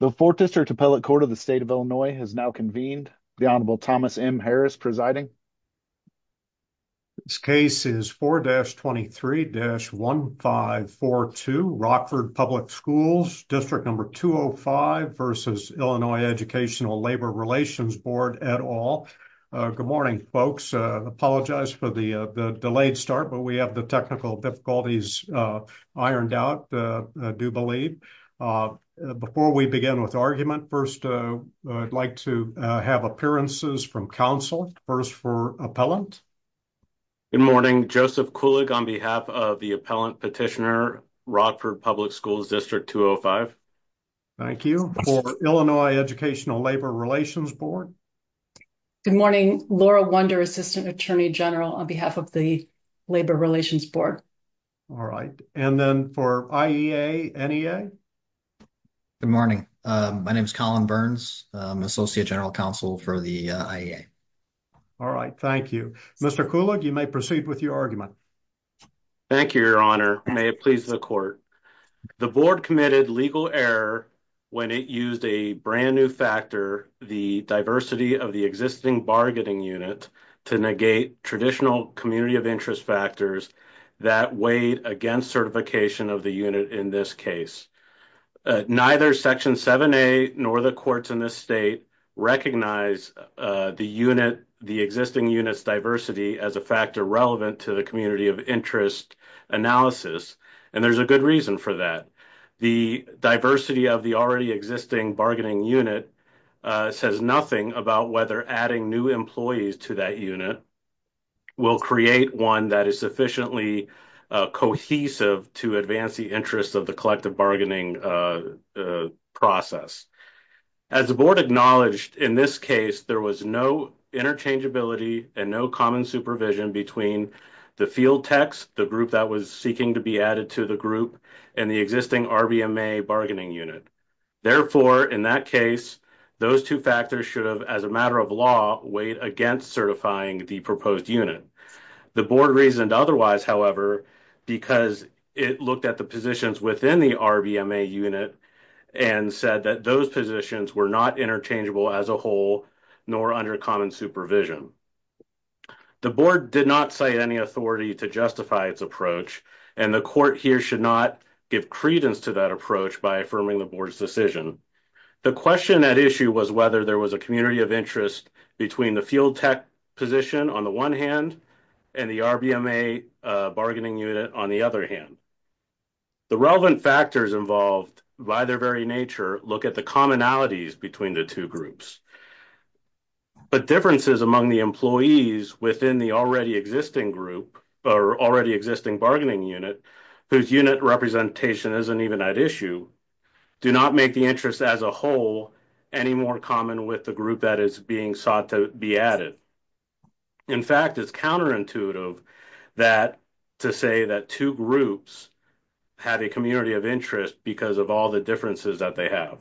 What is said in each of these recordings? The Fourth District Appellate Court of the State of Illinois has now convened. The Honorable Thomas M. Harris presiding. This case is 4-23-1542, Rockford Public Schools, District No. 205 v. Illinois Educational Labor Relations Board, et al. Good morning, folks. Apologize for the delayed start, but we have technical difficulties ironed out, I do believe. Before we begin with argument, first I'd like to have appearances from counsel, first for appellant. Good morning, Joseph Kulig on behalf of the appellant petitioner, Rockford Public Schools, District No. 205. Thank you. For Illinois Educational Labor Relations Board. Good morning, Laura Wunder, Assistant Attorney General on behalf of the Labor Relations Board. All right, and then for IEA, NEA. Good morning, my name is Colin Burns, Associate General Counsel for the IEA. All right, thank you. Mr. Kulig, you may proceed with your argument. Thank you, Your Honor. May it please the Court. The Board committed legal error when it used a brand new factor, the diversity of the existing bargaining unit, to negate traditional community of interest factors that weighed against certification of the unit in this case. Neither Section 7A nor the courts in this state recognize the unit, the existing unit's diversity as a factor relevant to the community of interest analysis, and there's a good reason for that. The diversity of the already existing bargaining unit says nothing about whether adding new employees to that unit will create one that is sufficiently cohesive to advance the interests of the collective bargaining process. As the Board acknowledged, in this case, there was no interchangeability and no common supervision between the field techs, the group that was seeking to be added to the group, and the existing RBMA bargaining unit. Therefore, in that case, those two factors should have, as a matter of law, weighed against certifying the proposed unit. The Board reasoned otherwise, however, because it looked at the positions within the RBMA unit and said that those positions were not interchangeable as a whole nor under common supervision. The Board did not cite any authority to justify its approach, and the Court here should not give credence to that approach by affirming the Board's decision. The question at issue was whether there was a community of interest between the field tech position on the one hand and the RBMA bargaining unit on the other hand. The relevant factors involved, by their very nature, look at the commonalities between the two groups. But differences among the employees within the already existing group or already existing bargaining unit, whose unit representation isn't even at issue, do not make the interest as a whole any more common with the group that is being sought to be added. In fact, it's counterintuitive to say that two groups have a community of interest because of all the differences that they have.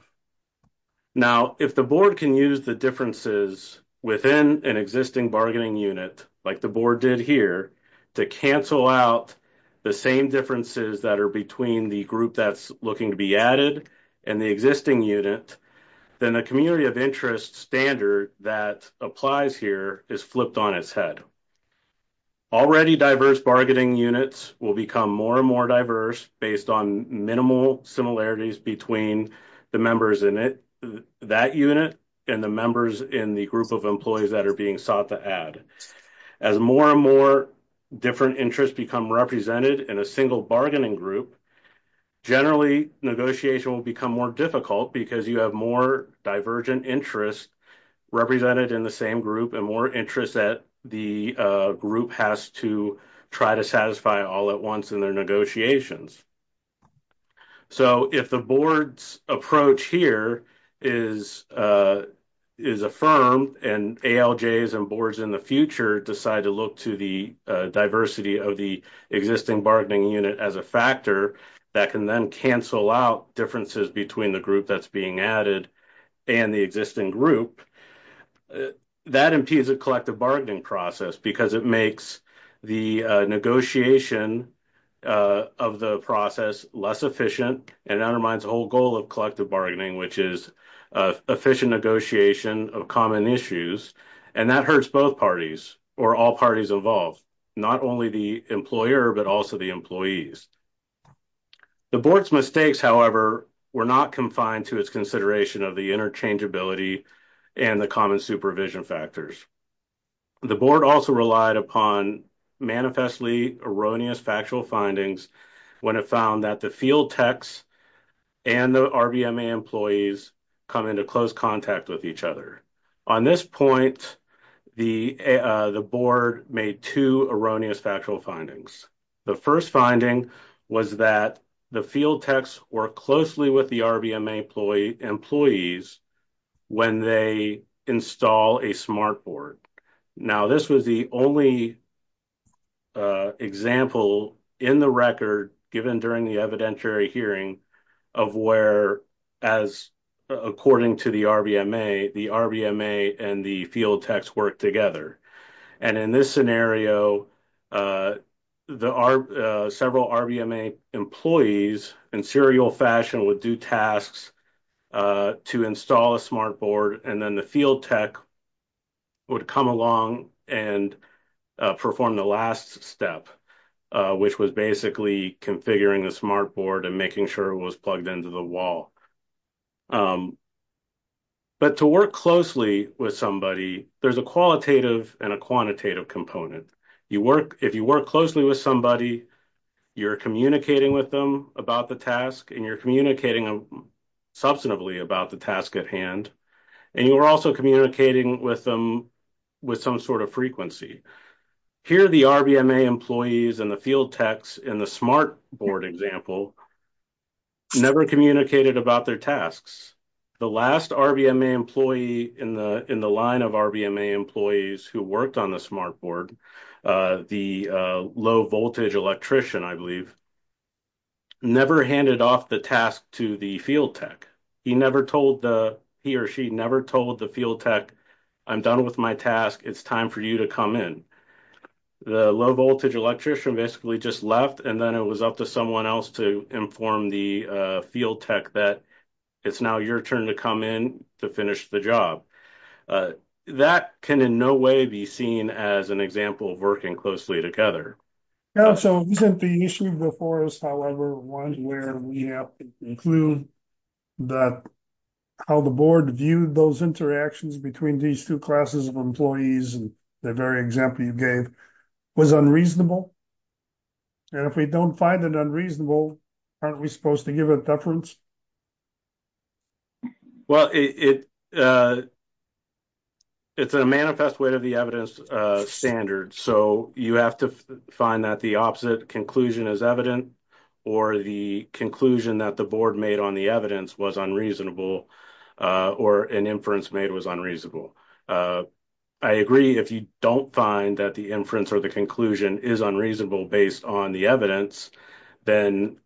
Now, if the Board can use the within an existing bargaining unit, like the Board did here, to cancel out the same differences that are between the group that's looking to be added and the existing unit, then the community of interest standard that applies here is flipped on its head. Already diverse bargaining units will become more and more diverse based on minimal similarities between the members in that unit and the members in the group of employees that are being sought to add. As more and more different interests become represented in a single bargaining group, generally negotiation will become more difficult because you have more divergent interests represented in the same group and more interest that the group has to try to satisfy all at once in their negotiations. So, if the Board's approach here is affirmed and ALJs and Boards in the future decide to look to the diversity of the existing bargaining unit as a factor that can then cancel out differences between the group that's being added and the existing group, that impedes a collective bargaining process because it makes the negotiation of the process less efficient and undermines the whole goal of collective bargaining, which is efficient negotiation of common issues, and that hurts both parties or all parties involved, not only the employer but also the employees. The Board's mistakes, however, were not confined to its consideration of the interchangeability and the common supervision factors. The Board also relied upon manifestly erroneous factual findings when it found that the field techs and the RBMA employees come into close contact with each other. On this point, the Board made two erroneous findings. The first finding was that the field techs work closely with the RBMA employees when they install a SMART Board. Now, this was the only example in the record given during the evidentiary hearing of where, according to the RBMA, the RBMA and the field techs work together. In this scenario, several RBMA employees, in serial fashion, would do tasks to install a SMART Board, and then the field tech would come along and perform the last step, which was basically configuring the SMART Board and making sure it was plugged into the wall. But to work closely with somebody, there's a qualitative and a quantitative component. If you work closely with somebody, you're communicating with them about the task and you're communicating substantively about the task at hand, and you're also communicating with them with some sort of frequency. Here, the RBMA employees and the field techs in the SMART Board example never communicated about their tasks. The last RBMA employee in the line of RBMA employees who worked on the SMART Board, the low-voltage electrician, I believe, never handed off the task to the field tech. He or she never told the field tech, I'm done with my task. It's time for you to come in. The low-voltage electrician basically just left, and then it was up to someone else to inform the field tech that it's now your turn to come in to finish the job. That can in no way be seen as an example of working closely together. So isn't the issue before us, however, one where we have to conclude that how the Board viewed those interactions between these two classes of employees and the very example you gave was unreasonable? And if we don't find it unreasonable, aren't we supposed to give a deference? Well, it's a manifest way of the evidence standard, so you have to find that the opposite conclusion is evident or the conclusion that the Board made on the evidence was unreasonable or an inference made was unreasonable. I agree if you don't find that inference or the conclusion is unreasonable based on the evidence, then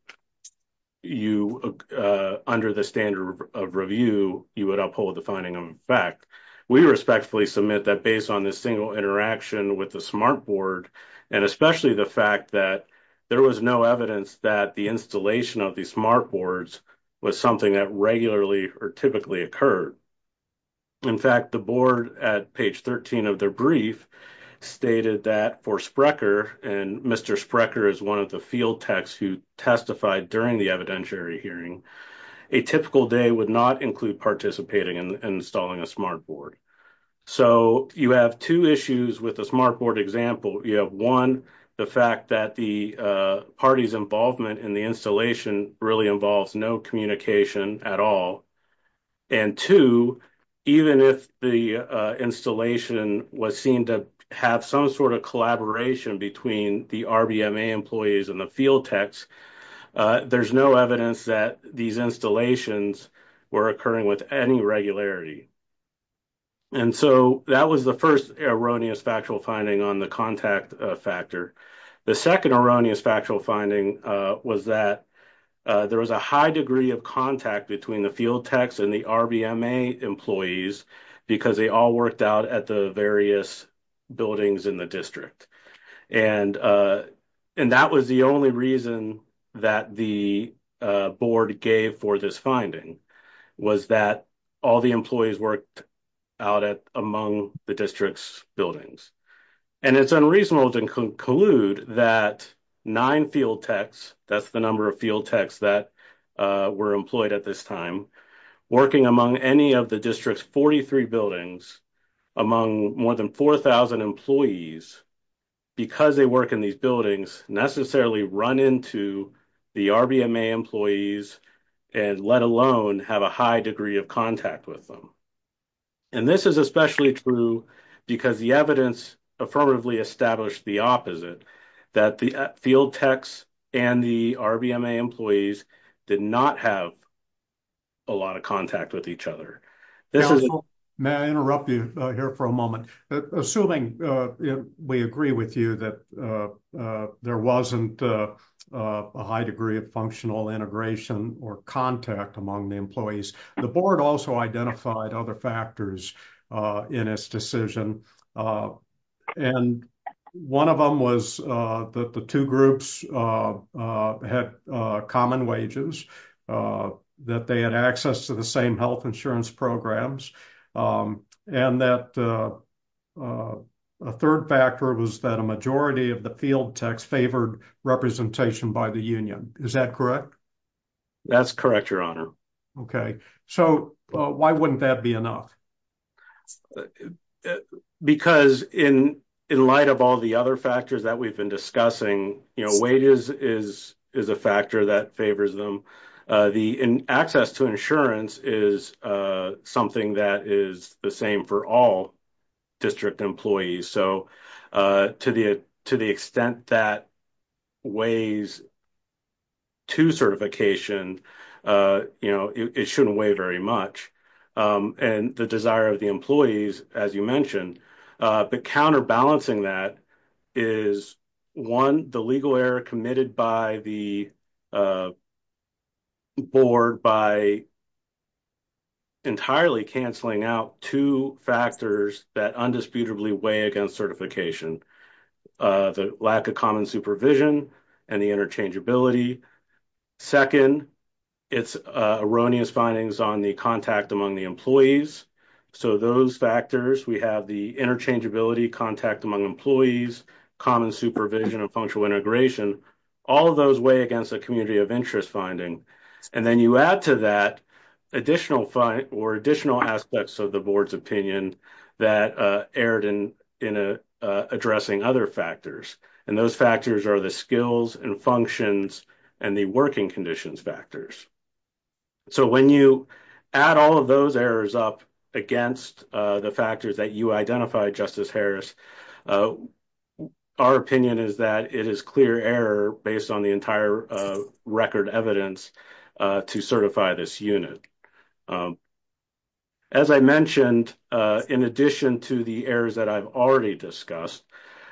under the standard of review, you would uphold the finding of fact. We respectfully submit that based on this single interaction with the SMART Board, and especially the fact that there was no evidence that the installation of the SMART Boards was something that regularly or typically occurred. In fact, the Board at page 13 of their brief stated that for Sprecher, and Mr. Sprecher is one of the field techs who testified during the evidentiary hearing, a typical day would not include participating in installing a SMART Board. So you have two issues with the SMART Board example. You have, one, the fact that the party's involvement in the installation really involves no communication at all, and two, even if the installation was seen to have some sort of collaboration between the RBMA employees and the field techs, there's no evidence that these installations were occurring with any regularity. And so that was the first erroneous factual finding on the contact factor. The second erroneous factual finding was that there was a high degree of contact between the field techs and the RBMA employees because they all worked out at the various buildings in the district. And that was the only reason that the Board gave for this finding, was that all the out at among the district's buildings. And it's unreasonable to conclude that nine field techs, that's the number of field techs that were employed at this time, working among any of the district's 43 buildings among more than 4,000 employees, because they work in these buildings, necessarily run into the RBMA employees and let alone have a high degree of contact with them. And this is especially true because the evidence affirmatively established the opposite, that the field techs and the RBMA employees did not have a lot of contact with each other. May I interrupt you here for a moment? Assuming we agree with you that there wasn't a high degree of functional integration or contact among the employees, the Board also identified other factors in its decision. And one of them was that the two groups had common wages, that they had access to the same health insurance programs. And that a third factor was that a majority of the field techs favored representation by the union. Is that correct? That's correct, your honor. Okay, so why wouldn't that be enough? Because in light of all the other factors that we've been discussing, you know, wages is a factor that favors them. The access to insurance is something that is the same for all district employees. So, to the extent that weighs to certification, you know, it shouldn't weigh very much. And the desire of the employees, as you mentioned, but counterbalancing that is, one, the legal error committed by the board by entirely canceling out two factors that undisputably weigh against certification. The lack of common supervision and the interchangeability. Second, it's erroneous findings on the contact among the employees. So, those factors, we have the interchangeability, contact among employees, common supervision, and functional integration. All of those weigh against the community of interest finding. And then you add to that additional or additional aspects of the board's opinion that erred in addressing other factors. And those factors are the skills and functions and the working conditions factors. So, when you add all of those errors up against the factors that you identified, Justice Harris, our opinion is that it is clear error based on the entire record evidence to certify this unit. As I mentioned, in addition to the errors that I've already discussed,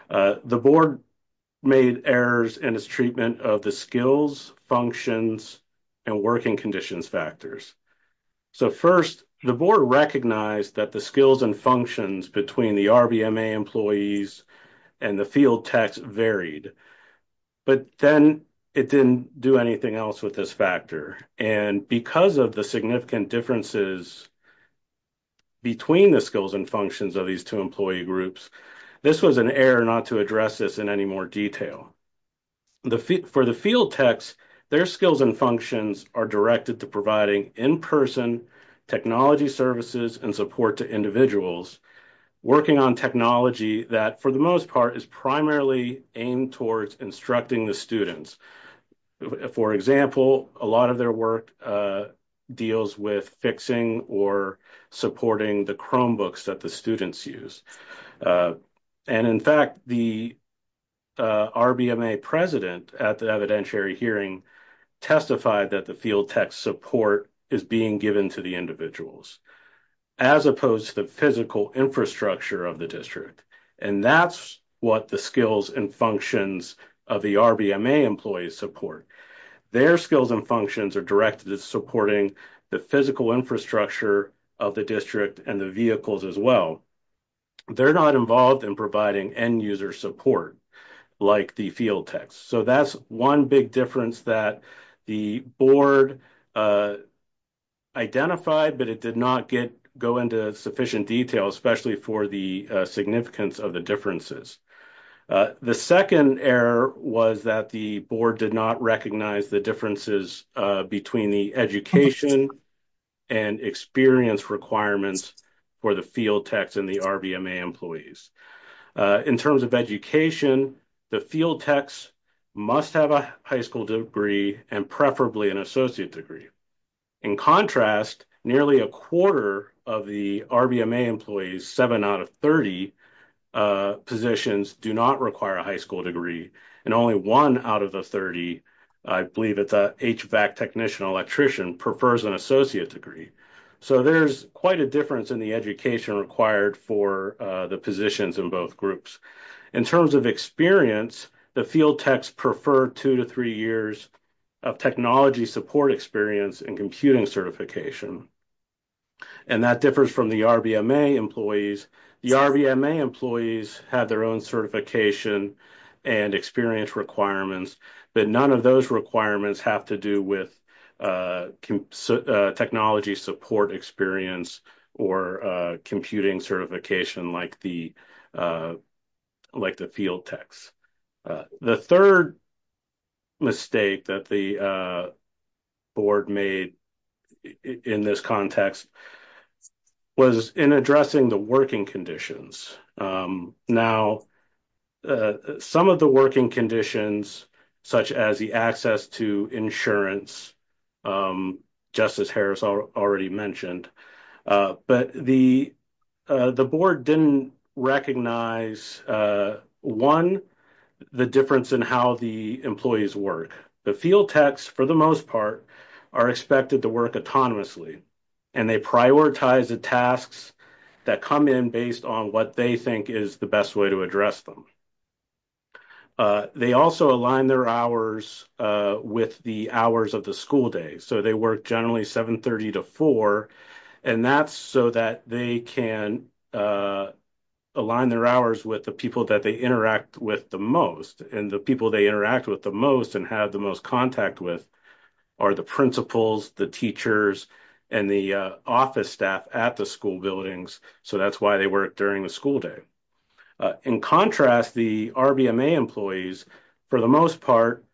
the board made errors in its treatment of the skills, functions, and working conditions factors. So, first, the board recognized that the skills and functions between the RBMA employees and the field techs varied. But then it didn't do anything else with this factor. And because of the significant differences between the skills and functions of these two employee groups, this was an error not to address this in any more detail. For the field techs, their skills and functions are directed to providing in-person technology services and support to individuals working on technology that, for the most part, is primarily aimed towards instructing the students. For example, a lot of their work deals with fixing or supporting the Chromebooks that the students use. And in fact, the RBMA president at the evidentiary hearing testified that the field tech support is being given to the individuals. As opposed to the physical infrastructure of the district. And that's what the skills and functions of the RBMA employees support. Their skills and functions are directed at supporting the physical infrastructure of the district and the vehicles as well. They're not involved in providing end-user support like the field techs. So, that's one big difference that the board identified, but it did not go into sufficient detail, especially for the significance of the differences. The second error was that the board did not recognize the differences between the education and experience requirements for the field techs and the RBMA employees. In terms of education, the field techs must have a high school degree and preferably an associate degree. In contrast, nearly a quarter of the RBMA employees, seven out of 30 positions, do not require a high school degree. And only one out of the 30, I believe it's a HVAC technician electrician, prefers an associate degree. So, there's quite a difference in the education required for the positions in both groups. In terms of experience, the field techs prefer two to three years of technology support experience and computing certification. And that differs from the RBMA employees. The RBMA employees have their own certification and experience requirements, but none of those requirements have to do with technology support experience or computing certification like the field techs. The third mistake that the board made in this context was in addressing the working conditions. Now, some of the working conditions, such as the access to insurance, just as Harris already mentioned, but the board didn't recognize, one, the difference in how the employees work. The field techs, for the most part, are expected to work autonomously and they prioritize the tasks that come in based on what they think is the best way to address them. They also align their hours with the hours of the school day. So, they work generally 730 to 4, and that's so that they can align their hours with the people that they interact with the most. And the people they interact with the most and have the most contact with are the principals, the teachers, and the office staff at the school buildings. So, that's why they work during the school day. In contrast, the RBMA employees, for the most part,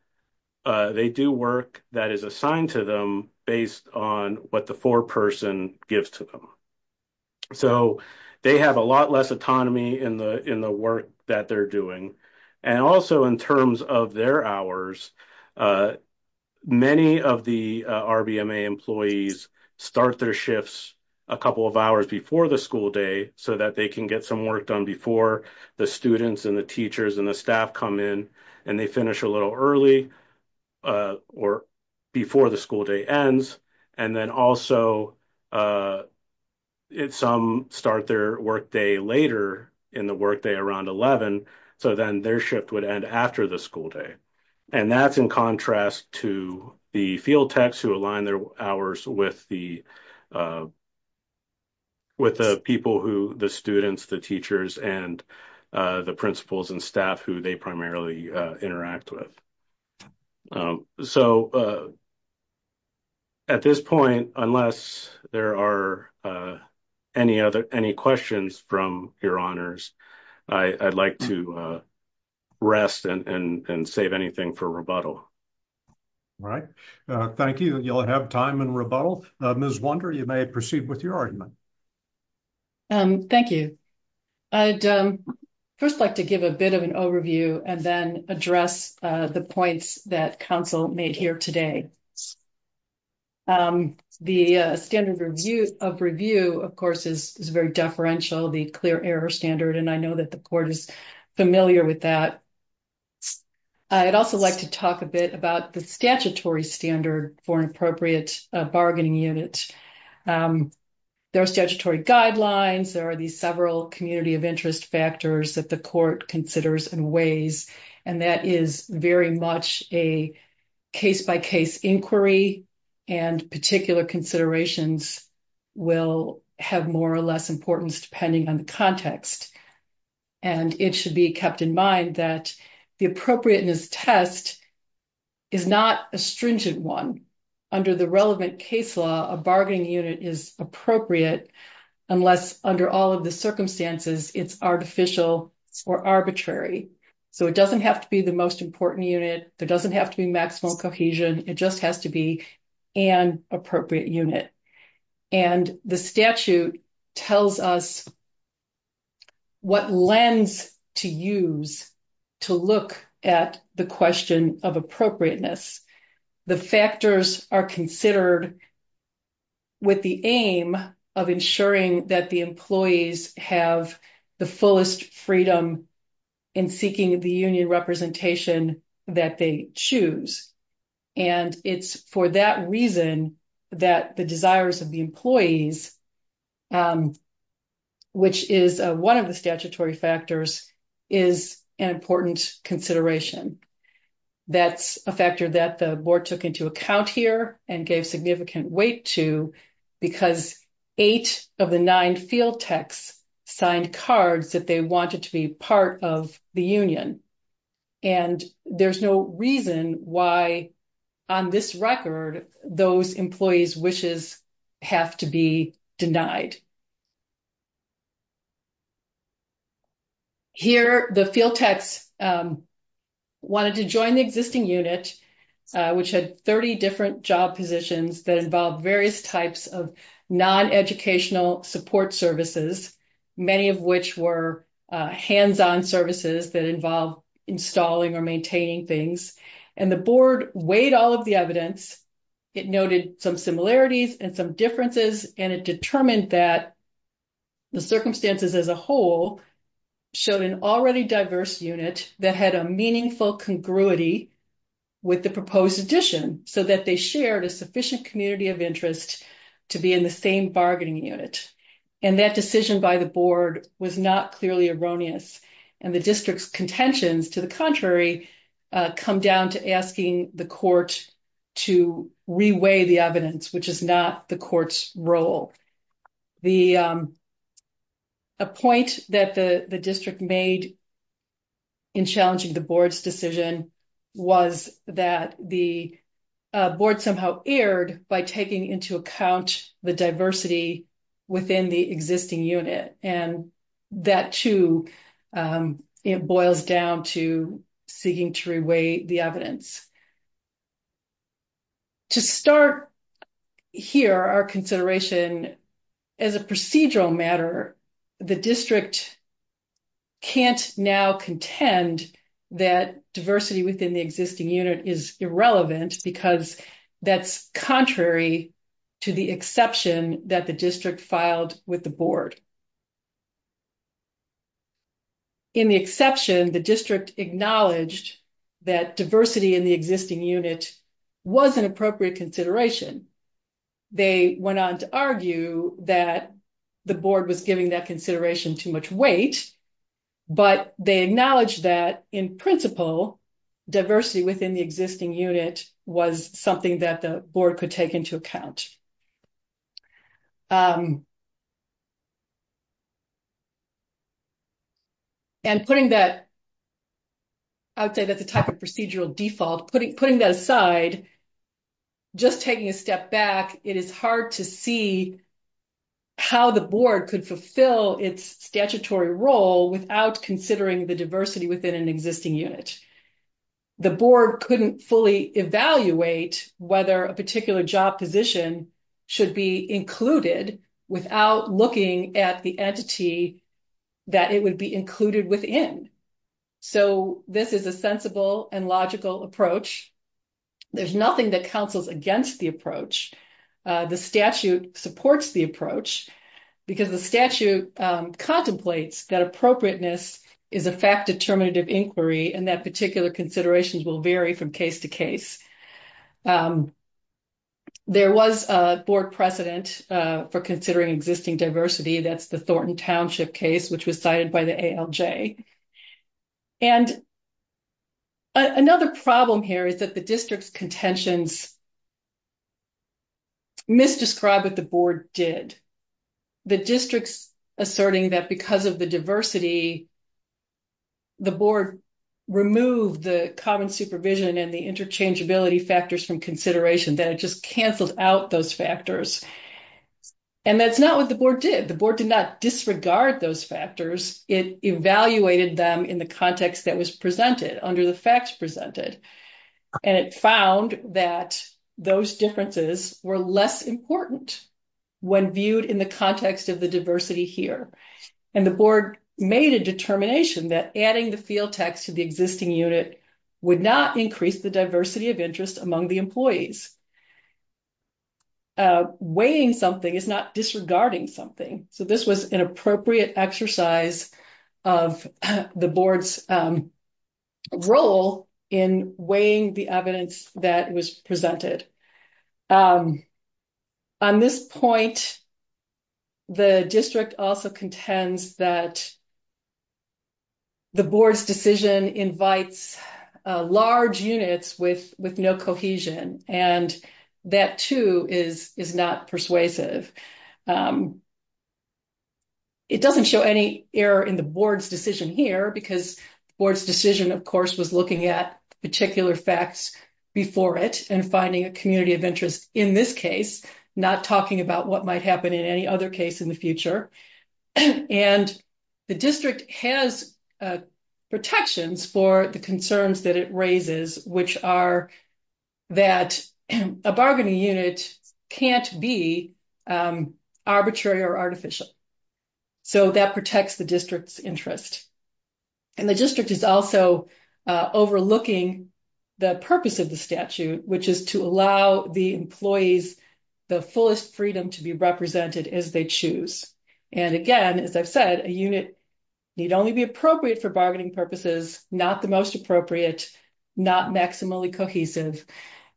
they do work that is assigned to them based on what the foreperson gives to them. So, they have a lot less autonomy in the work that they're doing. And also, in terms of their hours, many of the RBMA employees start their shifts a couple of hours before the school day so that they can get some work done before the students and the teachers and the staff come in and they finish a little early or before the school day ends. And then also, some start their work day later in the work day around 11, so then their shift would end after the school day. And that's in contrast to the field techs who align their hours with the people who the students, the teachers, and the principals and staff who they interact with. So, at this point, unless there are any questions from your honors, I'd like to rest and save anything for rebuttal. Right. Thank you. You'll have time in rebuttal. Ms. Wunder, you may proceed with your argument. Thank you. I'd first like to give a bit of an overview and then address the points that council made here today. The standard of review, of course, is very deferential, the clear error standard, and I know that the court is familiar with that. I'd also like to talk a bit about the statutory guidelines. There are these several community of interest factors that the court considers in ways, and that is very much a case-by-case inquiry and particular considerations will have more or less importance depending on the context. And it should be kept in mind that the appropriateness test is not a stringent one. Under the relevant case law, a bargaining unit is appropriate unless under all of the circumstances it's artificial or arbitrary. So, it doesn't have to be the most important unit. There doesn't have to be maximal cohesion. It just has to be an appropriate unit. And the statute tells us what lens to use to look at the question of appropriateness. The factors are considered with the aim of ensuring that the employees have the fullest freedom in seeking the union representation that they choose. And it's for that reason that the desires of the employees, which is one of the statutory factors, is an important consideration. That's a factor that the board took into account here and gave significant weight to because eight of the nine field techs signed cards that they wanted to be part of the union. And there's no reason why on this record those employees' wishes have to be denied. Here, the field techs wanted to join the existing unit, which had 30 different job positions that involved various types of non-educational support services, many of which were hands-on services that involved installing or maintaining things. And the board weighed all the evidence. It noted some similarities and some differences. And it determined that the circumstances as a whole showed an already diverse unit that had a meaningful congruity with the proposed addition so that they shared a sufficient community of interest to be in the same bargaining unit. And that decision by the board was not clearly erroneous. And the district's contentions, to the contrary, come down to asking the court to re-weigh the evidence, which is not the court's role. A point that the district made in challenging the board's decision was that the board somehow erred by taking into account the diversity within the existing unit. And that, too, boils down to seeking to re-weigh the evidence. To start here, our consideration as a procedural matter, the district can't now contend that diversity within the existing unit is irrelevant because that's contrary to the exception that the district filed with the board. In the exception, the district acknowledged that diversity in the existing unit was an appropriate consideration. They went on to argue that the board was giving that consideration too much weight, but they acknowledged that, in principle, diversity within the existing unit was something that the board could take into account. And putting that, I would say that's a type of procedural default. Putting that aside, just taking a step back, it is hard to see how the board could fulfill its statutory role without considering the diversity within an existing unit. The board couldn't fully evaluate whether a particular job position should be included without looking at the entity that it would be included within. So this is a sensible and logical approach. There's nothing that counsels against the approach. The statute supports the approach because the statute contemplates that appropriateness is a fact-determinative inquiry and that particular considerations will vary from case to case. There was a board precedent for considering existing diversity. That's the Thornton Another problem here is that the district's contentions misdescribe what the board did. The district's asserting that because of the diversity, the board removed the common supervision and the interchangeability factors from consideration, that it just canceled out those factors. And that's not what the board did. The board did disregard those factors. It evaluated them in the context that was presented under the facts presented. And it found that those differences were less important when viewed in the context of the diversity here. And the board made a determination that adding the field text to the existing unit would not increase the diversity of interest among the employees. Weighing something is not disregarding something. So this was an appropriate exercise of the board's role in weighing the evidence that was presented. On this point, the district also contends that the board's decision invites large units with no cohesion. And that too is not persuasive. It doesn't show any error in the board's decision here because the board's decision, of course, was looking at particular facts before it and finding a community of interest in this case, not talking about what might happen in any other case in the future. And the district has protections for the concerns that it raises, which are that a bargaining unit can't be arbitrary or artificial. So that protects the district's interest. And the district is also overlooking the purpose of the statute, which is to allow the employees the fullest freedom to be represented as they choose. And again, as I've said, a unit need only be appropriate for bargaining purposes, not the most appropriate, not maximally cohesive.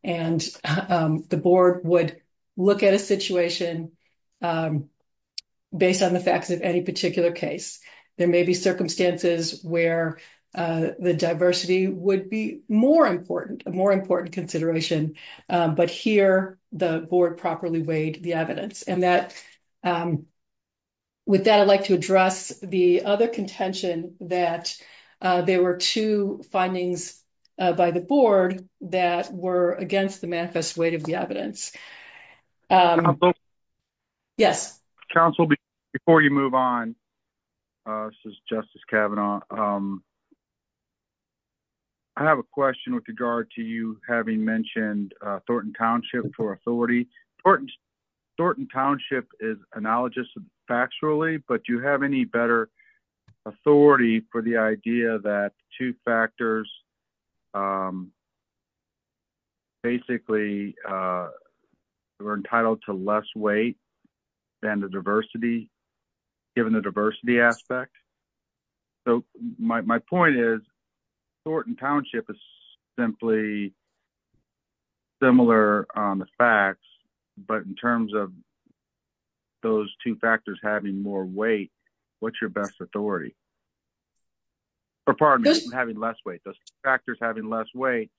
And the board would look at a situation based on the facts of any particular case. There may be circumstances where the diversity would be more important, a more important consideration, but here the board properly weighed the evidence. With that, I'd like to address the other contention that there were two findings by the board that were against the manifest weight of the evidence. Yes. Council before you move on. This is Justice Kavanaugh. I have a question with regard to you having mentioned Thornton Township for authority. Thornton Township is analogous factually, but you have any better authority for the idea that two factors basically were entitled to less weight than the diversity, given the diversity aspect. So my point is Thornton Township is simply similar on the facts, but in terms of those two factors having more weight, what's your best authority? Or pardon me, having less weight, those factors having less weight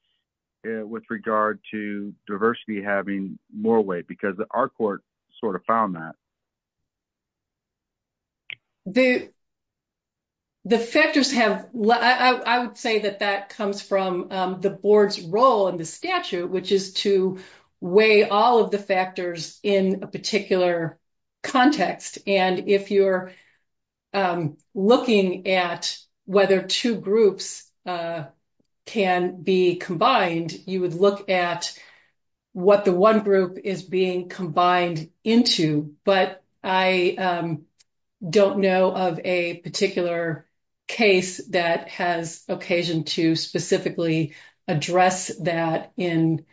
with regard to diversity, having more weight because our court sort of found that. The factors have, I would say that that comes from the board's role in the statute, which is to weigh all of the factors in a particular context. And if you're looking at whether two groups can be combined, you would look at what the one group is being combined into. But I don't know of a particular case that has occasion to specifically address that in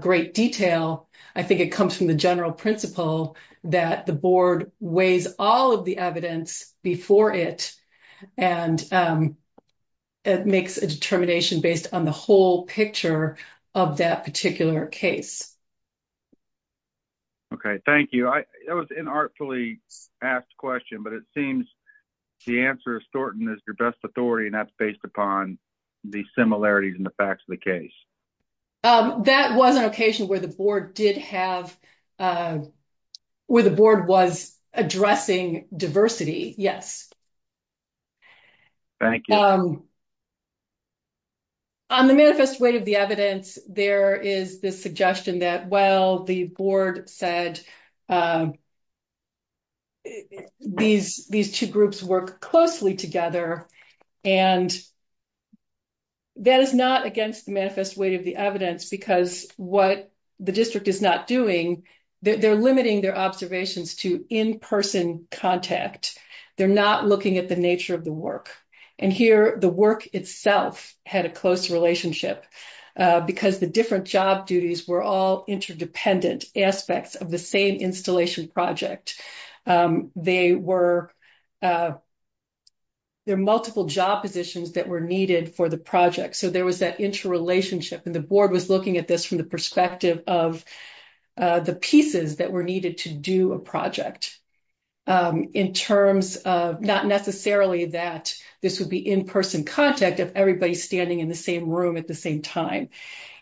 great detail. I think it comes from the general principle that the board weighs all of the evidence before it, and it makes a determination based on the whole picture of that particular case. Okay, thank you. That was an artfully asked question, but it seems the answer is Thornton is your best authority, and that's based upon the similarities in the facts of the case. That was an occasion where the board did have, where the board was addressing diversity, yes. Thank you. On the manifest weight of the evidence, there is this suggestion that, well, the board said these two groups work closely together, and that is not against the manifest weight of the evidence, because what the district is not doing, they're limiting their observations to in-person contact. They're not looking at the nature of the work, and here the work itself had a close relationship, because the different job duties were all interdependent aspects of the same installation project. They were, there are multiple job positions that were needed for the project, so there was that interrelationship, and the board was looking at this from the perspective of the pieces that were needed to do a project, in terms of not necessarily that this would be in-person contact if everybody's standing in the same room at the same time.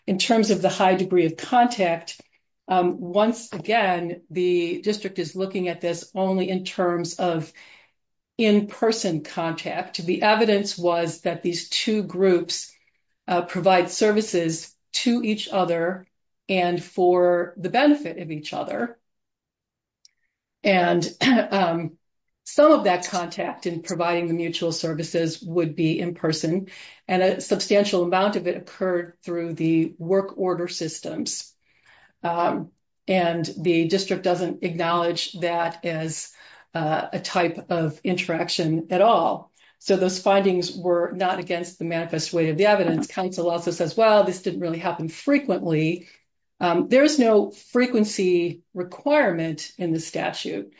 In terms of the high degree of contact, once again, the district is looking at this only in terms of in-person contact. The evidence was that these two groups provide services to each other and for the benefit of each other, and some of that contact in providing the mutual services would be in-person, and a substantial amount of it occurred through the work order systems, and the district doesn't acknowledge that as a type of interaction at all, so those findings were not against the manifest way of the evidence. Council also says, well, this didn't really happen frequently. There's no frequency requirement in the statute.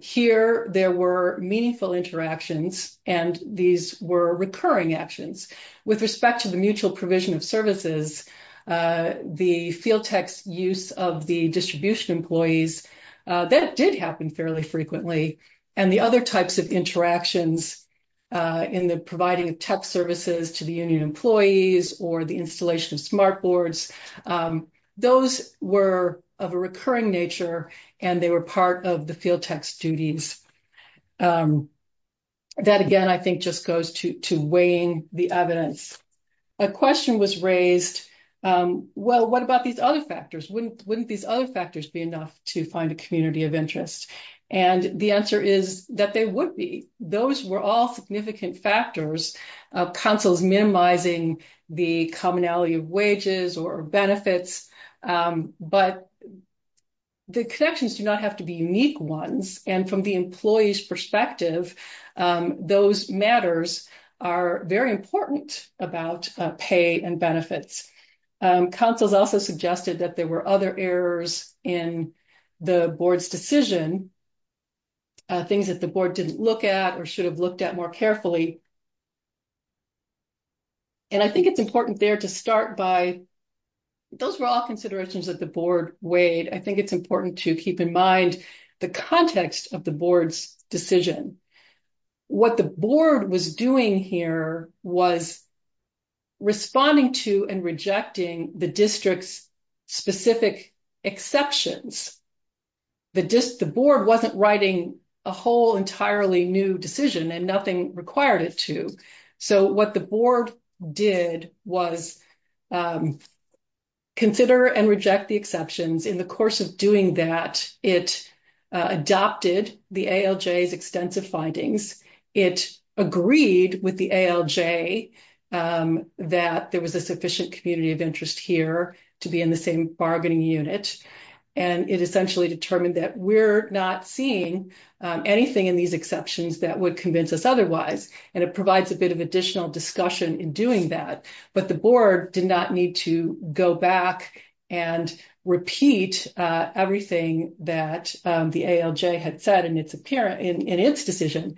Here, there were meaningful interactions, and these were recurring actions. With respect to the mutual provision of services, the field text use of the distribution employees, that did happen fairly frequently, and the other types of interactions in the providing of tech services to the union employees or the installation of smart boards, those were of a recurring nature, and they were part of the Well, what about these other factors? Wouldn't these other factors be enough to find a community of interest? And the answer is that they would be. Those were all significant factors, councils minimizing the commonality of wages or benefits, but the connections do not have to be unique ones, and from the employee's perspective, those matters are very important about pay and benefits. Councils also suggested that there were other errors in the board's decision, things that the board didn't look at or should have looked at more carefully, and I think it's important there to start by, those were all considerations that the board weighed. I think it's important to keep in mind the context of the board's decision. What the board was doing here was responding to and rejecting the district's specific exceptions. The board wasn't writing a whole entirely new decision and nothing required it to, so what the board did was consider and reject the exceptions. In the course of doing that, it adopted the ALJ's findings. It agreed with the ALJ that there was a sufficient community of interest here to be in the same bargaining unit, and it essentially determined that we're not seeing anything in these exceptions that would convince us otherwise, and it provides a bit of additional discussion in doing that, but the board did not need to go back and repeat everything that the ALJ had said in its decision,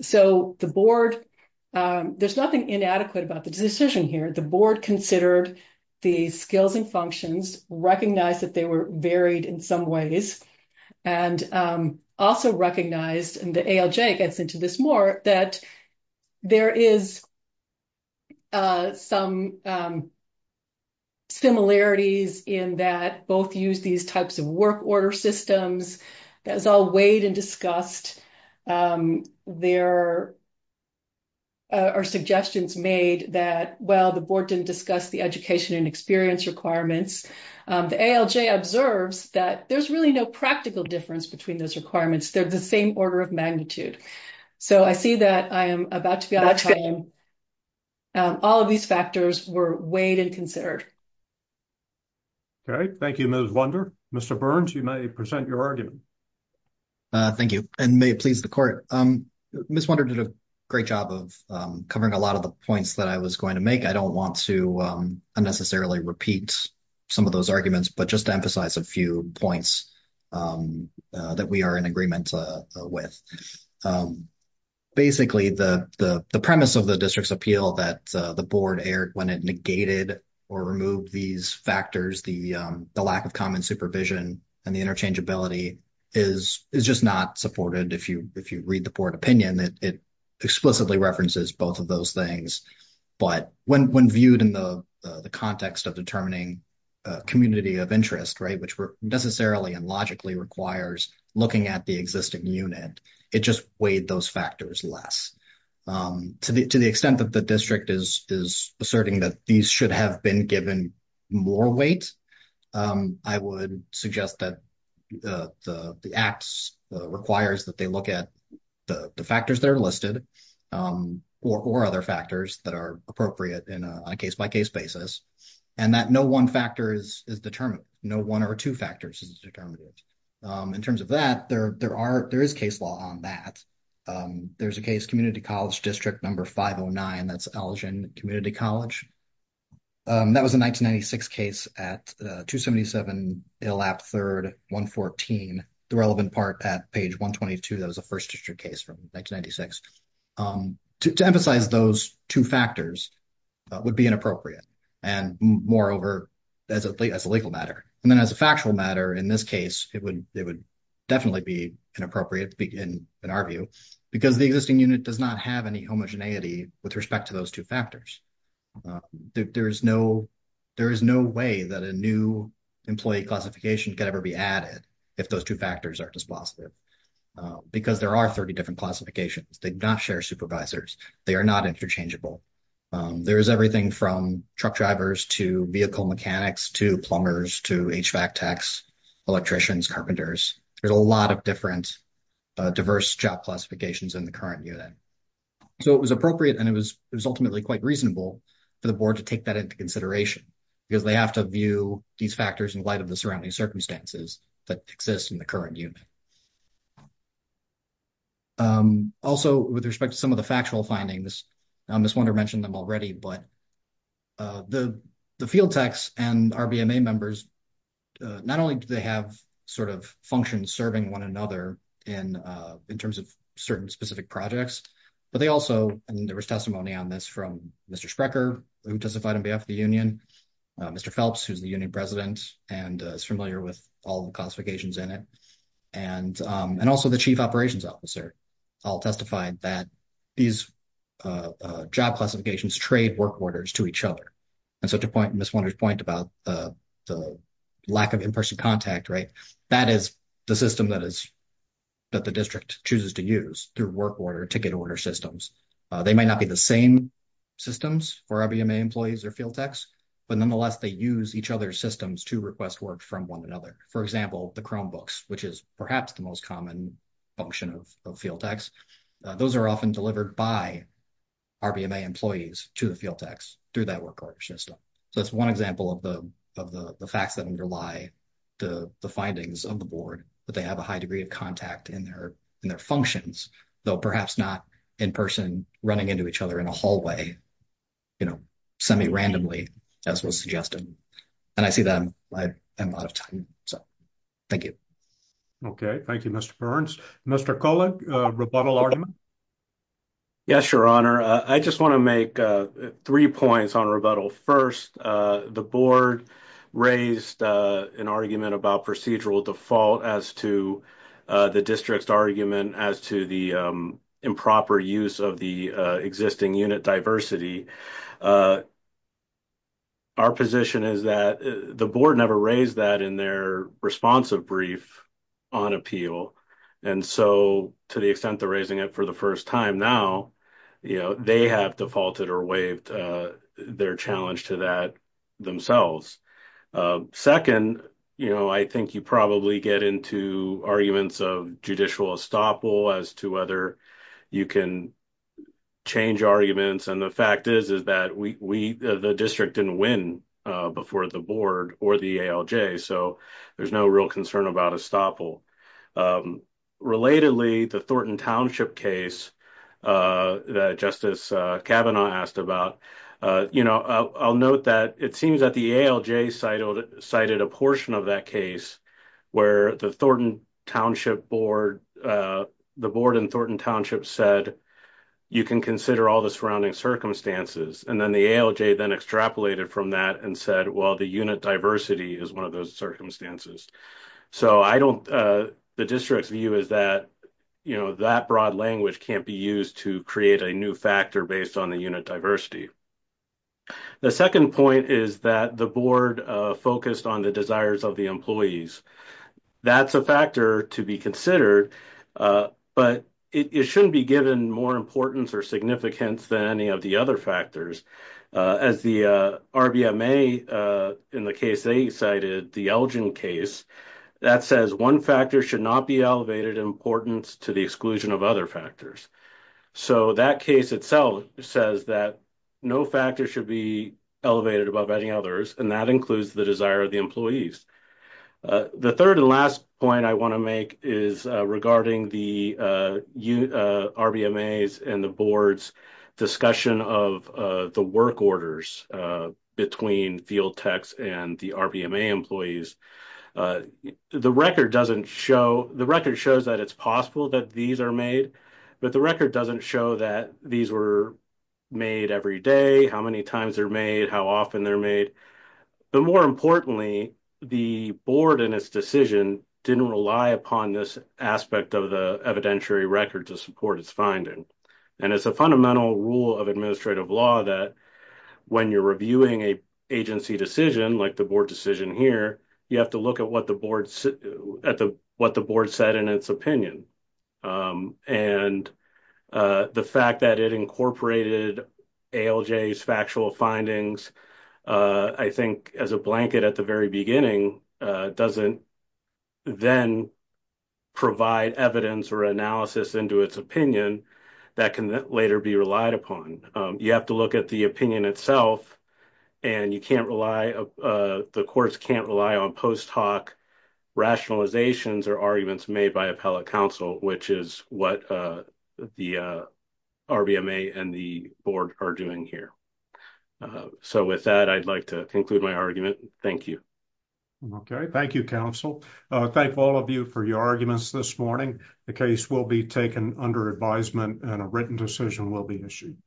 so the board, there's nothing inadequate about the decision here. The board considered the skills and functions, recognized that they were varied in some ways, and also recognized, and the ALJ gets into this more, that there is some similarities in that both use these types of work order systems that is all weighed and discussed. There are suggestions made that, well, the board didn't discuss the education and experience requirements. The ALJ observes that there's really no practical difference between those requirements. They're the same order of magnitude, so I see that I am about to be out of time. All of these factors were weighed and considered. Okay. Thank you, Ms. Wunder. Mr. Burns, you may present your argument. Thank you, and may it please the court. Ms. Wunder did a great job of covering a lot of the points that I was going to make. I don't want to unnecessarily repeat some of those arguments, but just to emphasize a few points that we are in agreement with. Basically, the premise of the negated or removed these factors, the lack of common supervision and the interchangeability, is just not supported. If you read the board opinion, it explicitly references both of those things, but when viewed in the context of determining community of interest, which necessarily and logically requires looking at the existing unit, it just weighed those factors less. To the extent that the district is asserting that these should have been given more weight, I would suggest that the act requires that they look at the factors that are listed or other factors that are appropriate on a case-by-case basis, and that no one factor is determined. No one or two factors is determined. In terms of that, there is case law on that. There is a case, Community College District No. 509, that's Elgin Community College. That was a 1996 case at 277 Illap 3rd, 114, the relevant part at page 122. That was a first district case from 1996. To emphasize those two factors would be inappropriate, and moreover, as a legal matter. Then as a factual matter, in this case, it would definitely be inappropriate in our view, because the existing unit does not have any homogeneity with respect to those two factors. There is no way that a new employee classification could ever be added if those two factors are dispositive, because there are 30 different classifications. They do not share supervisors. They are not interchangeable. There is everything from truck drivers to vehicle diverse job classifications in the current unit. It was appropriate, and it was ultimately quite reasonable for the Board to take that into consideration, because they have to view these factors in light of the surrounding circumstances that exist in the current unit. Also, with respect to some of the factual findings, Ms. Wunder mentioned them already, but the field techs and RBMA members, not only do they have functions serving one another in terms of certain specific projects, but they also, and there was testimony on this from Mr. Sprecher, who testified on behalf of the union, Mr. Phelps, who's the union president, and is familiar with all the classifications in it, and also the chief operations officer all testified that these job classifications trade work orders to each other. So to Ms. Wunder's point about the lack of in-person contact, that is the system that the district chooses to use through work order, ticket order systems. They might not be the same systems for RBMA employees or field techs, but nonetheless, they use each other's systems to request work from one another. For example, the Chromebooks, which is perhaps the most common function of field techs, those are often delivered by RBMA employees to the field techs through that work order system. So that's one example of the facts that underlie the findings of the board, that they have a high degree of contact in their functions, though perhaps not in-person, running into each other in a hallway, you know, semi-randomly, as was suggested. And I see that I'm out of time, so thank you. Okay, thank you, Mr. Burns. Mr. Kolek, rebuttal argument? Yes, Your Honor. I just want to make three points on rebuttal. First, the board raised an argument about procedural default as to the district's argument as to the improper use of the existing unit diversity. Our position is that the board never raised that in their responsive brief on appeal. And so, to the extent they're raising it for the first time now, you know, they have defaulted or waived their challenge to that themselves. Second, you know, I think you probably get into arguments of judicial estoppel as to whether you can change arguments. And the fact is, is that the district didn't win before the board or the ALJ, so there's no real concern about estoppel. Relatedly, the Thornton Township case that Justice Kavanaugh asked about, you know, I'll note that it seems that the ALJ cited a portion of that case where the Thornton Township board, the board in Thornton Township said, you can consider all the surrounding circumstances. And then the ALJ then extrapolated from that and said, well, the unit diversity is one of those circumstances. So, I don't, the district's view is that, you know, that broad language can't be used to create a new factor based on the unit diversity. The second point is that the board focused on the desires of the employees. That's a factor to be considered, but it shouldn't be given more importance or significance than any of the other factors. As the RBMA in the case they cited, the Elgin case, that says one factor should not be elevated in importance to the exclusion of other factors. So, that case itself says that no factor should be elevated above any others, and that includes the desire of the employees. The third and last point I want to make is regarding the RBMAs and the board's discussion of the work orders between field techs and the RBMA employees. The record doesn't show, the record shows that it's possible that these are made, but the record doesn't show that these were made every day, how many times they're made, how often they're made. But more importantly, the board and its decision didn't rely upon this aspect of the evidentiary record to support its finding. And it's a fundamental rule of administrative law that when you're reviewing an agency decision, like the board decision here, you have to look at what the board said in its opinion. And the fact that it incorporated ALJ's factual findings I think as a blanket at the very beginning, doesn't then provide evidence or analysis into its opinion that can later be relied upon. You have to look at the opinion itself, and you can't rely, the courts can't rely on post hoc rationalizations or arguments made by appellate counsel, which is what the RBMA and the board are doing here. So with that, I'd like to conclude my argument. Thank you. Okay. Thank you, counsel. Thank all of you for your arguments this morning. The case will be taken under advisement and a written decision will be issued.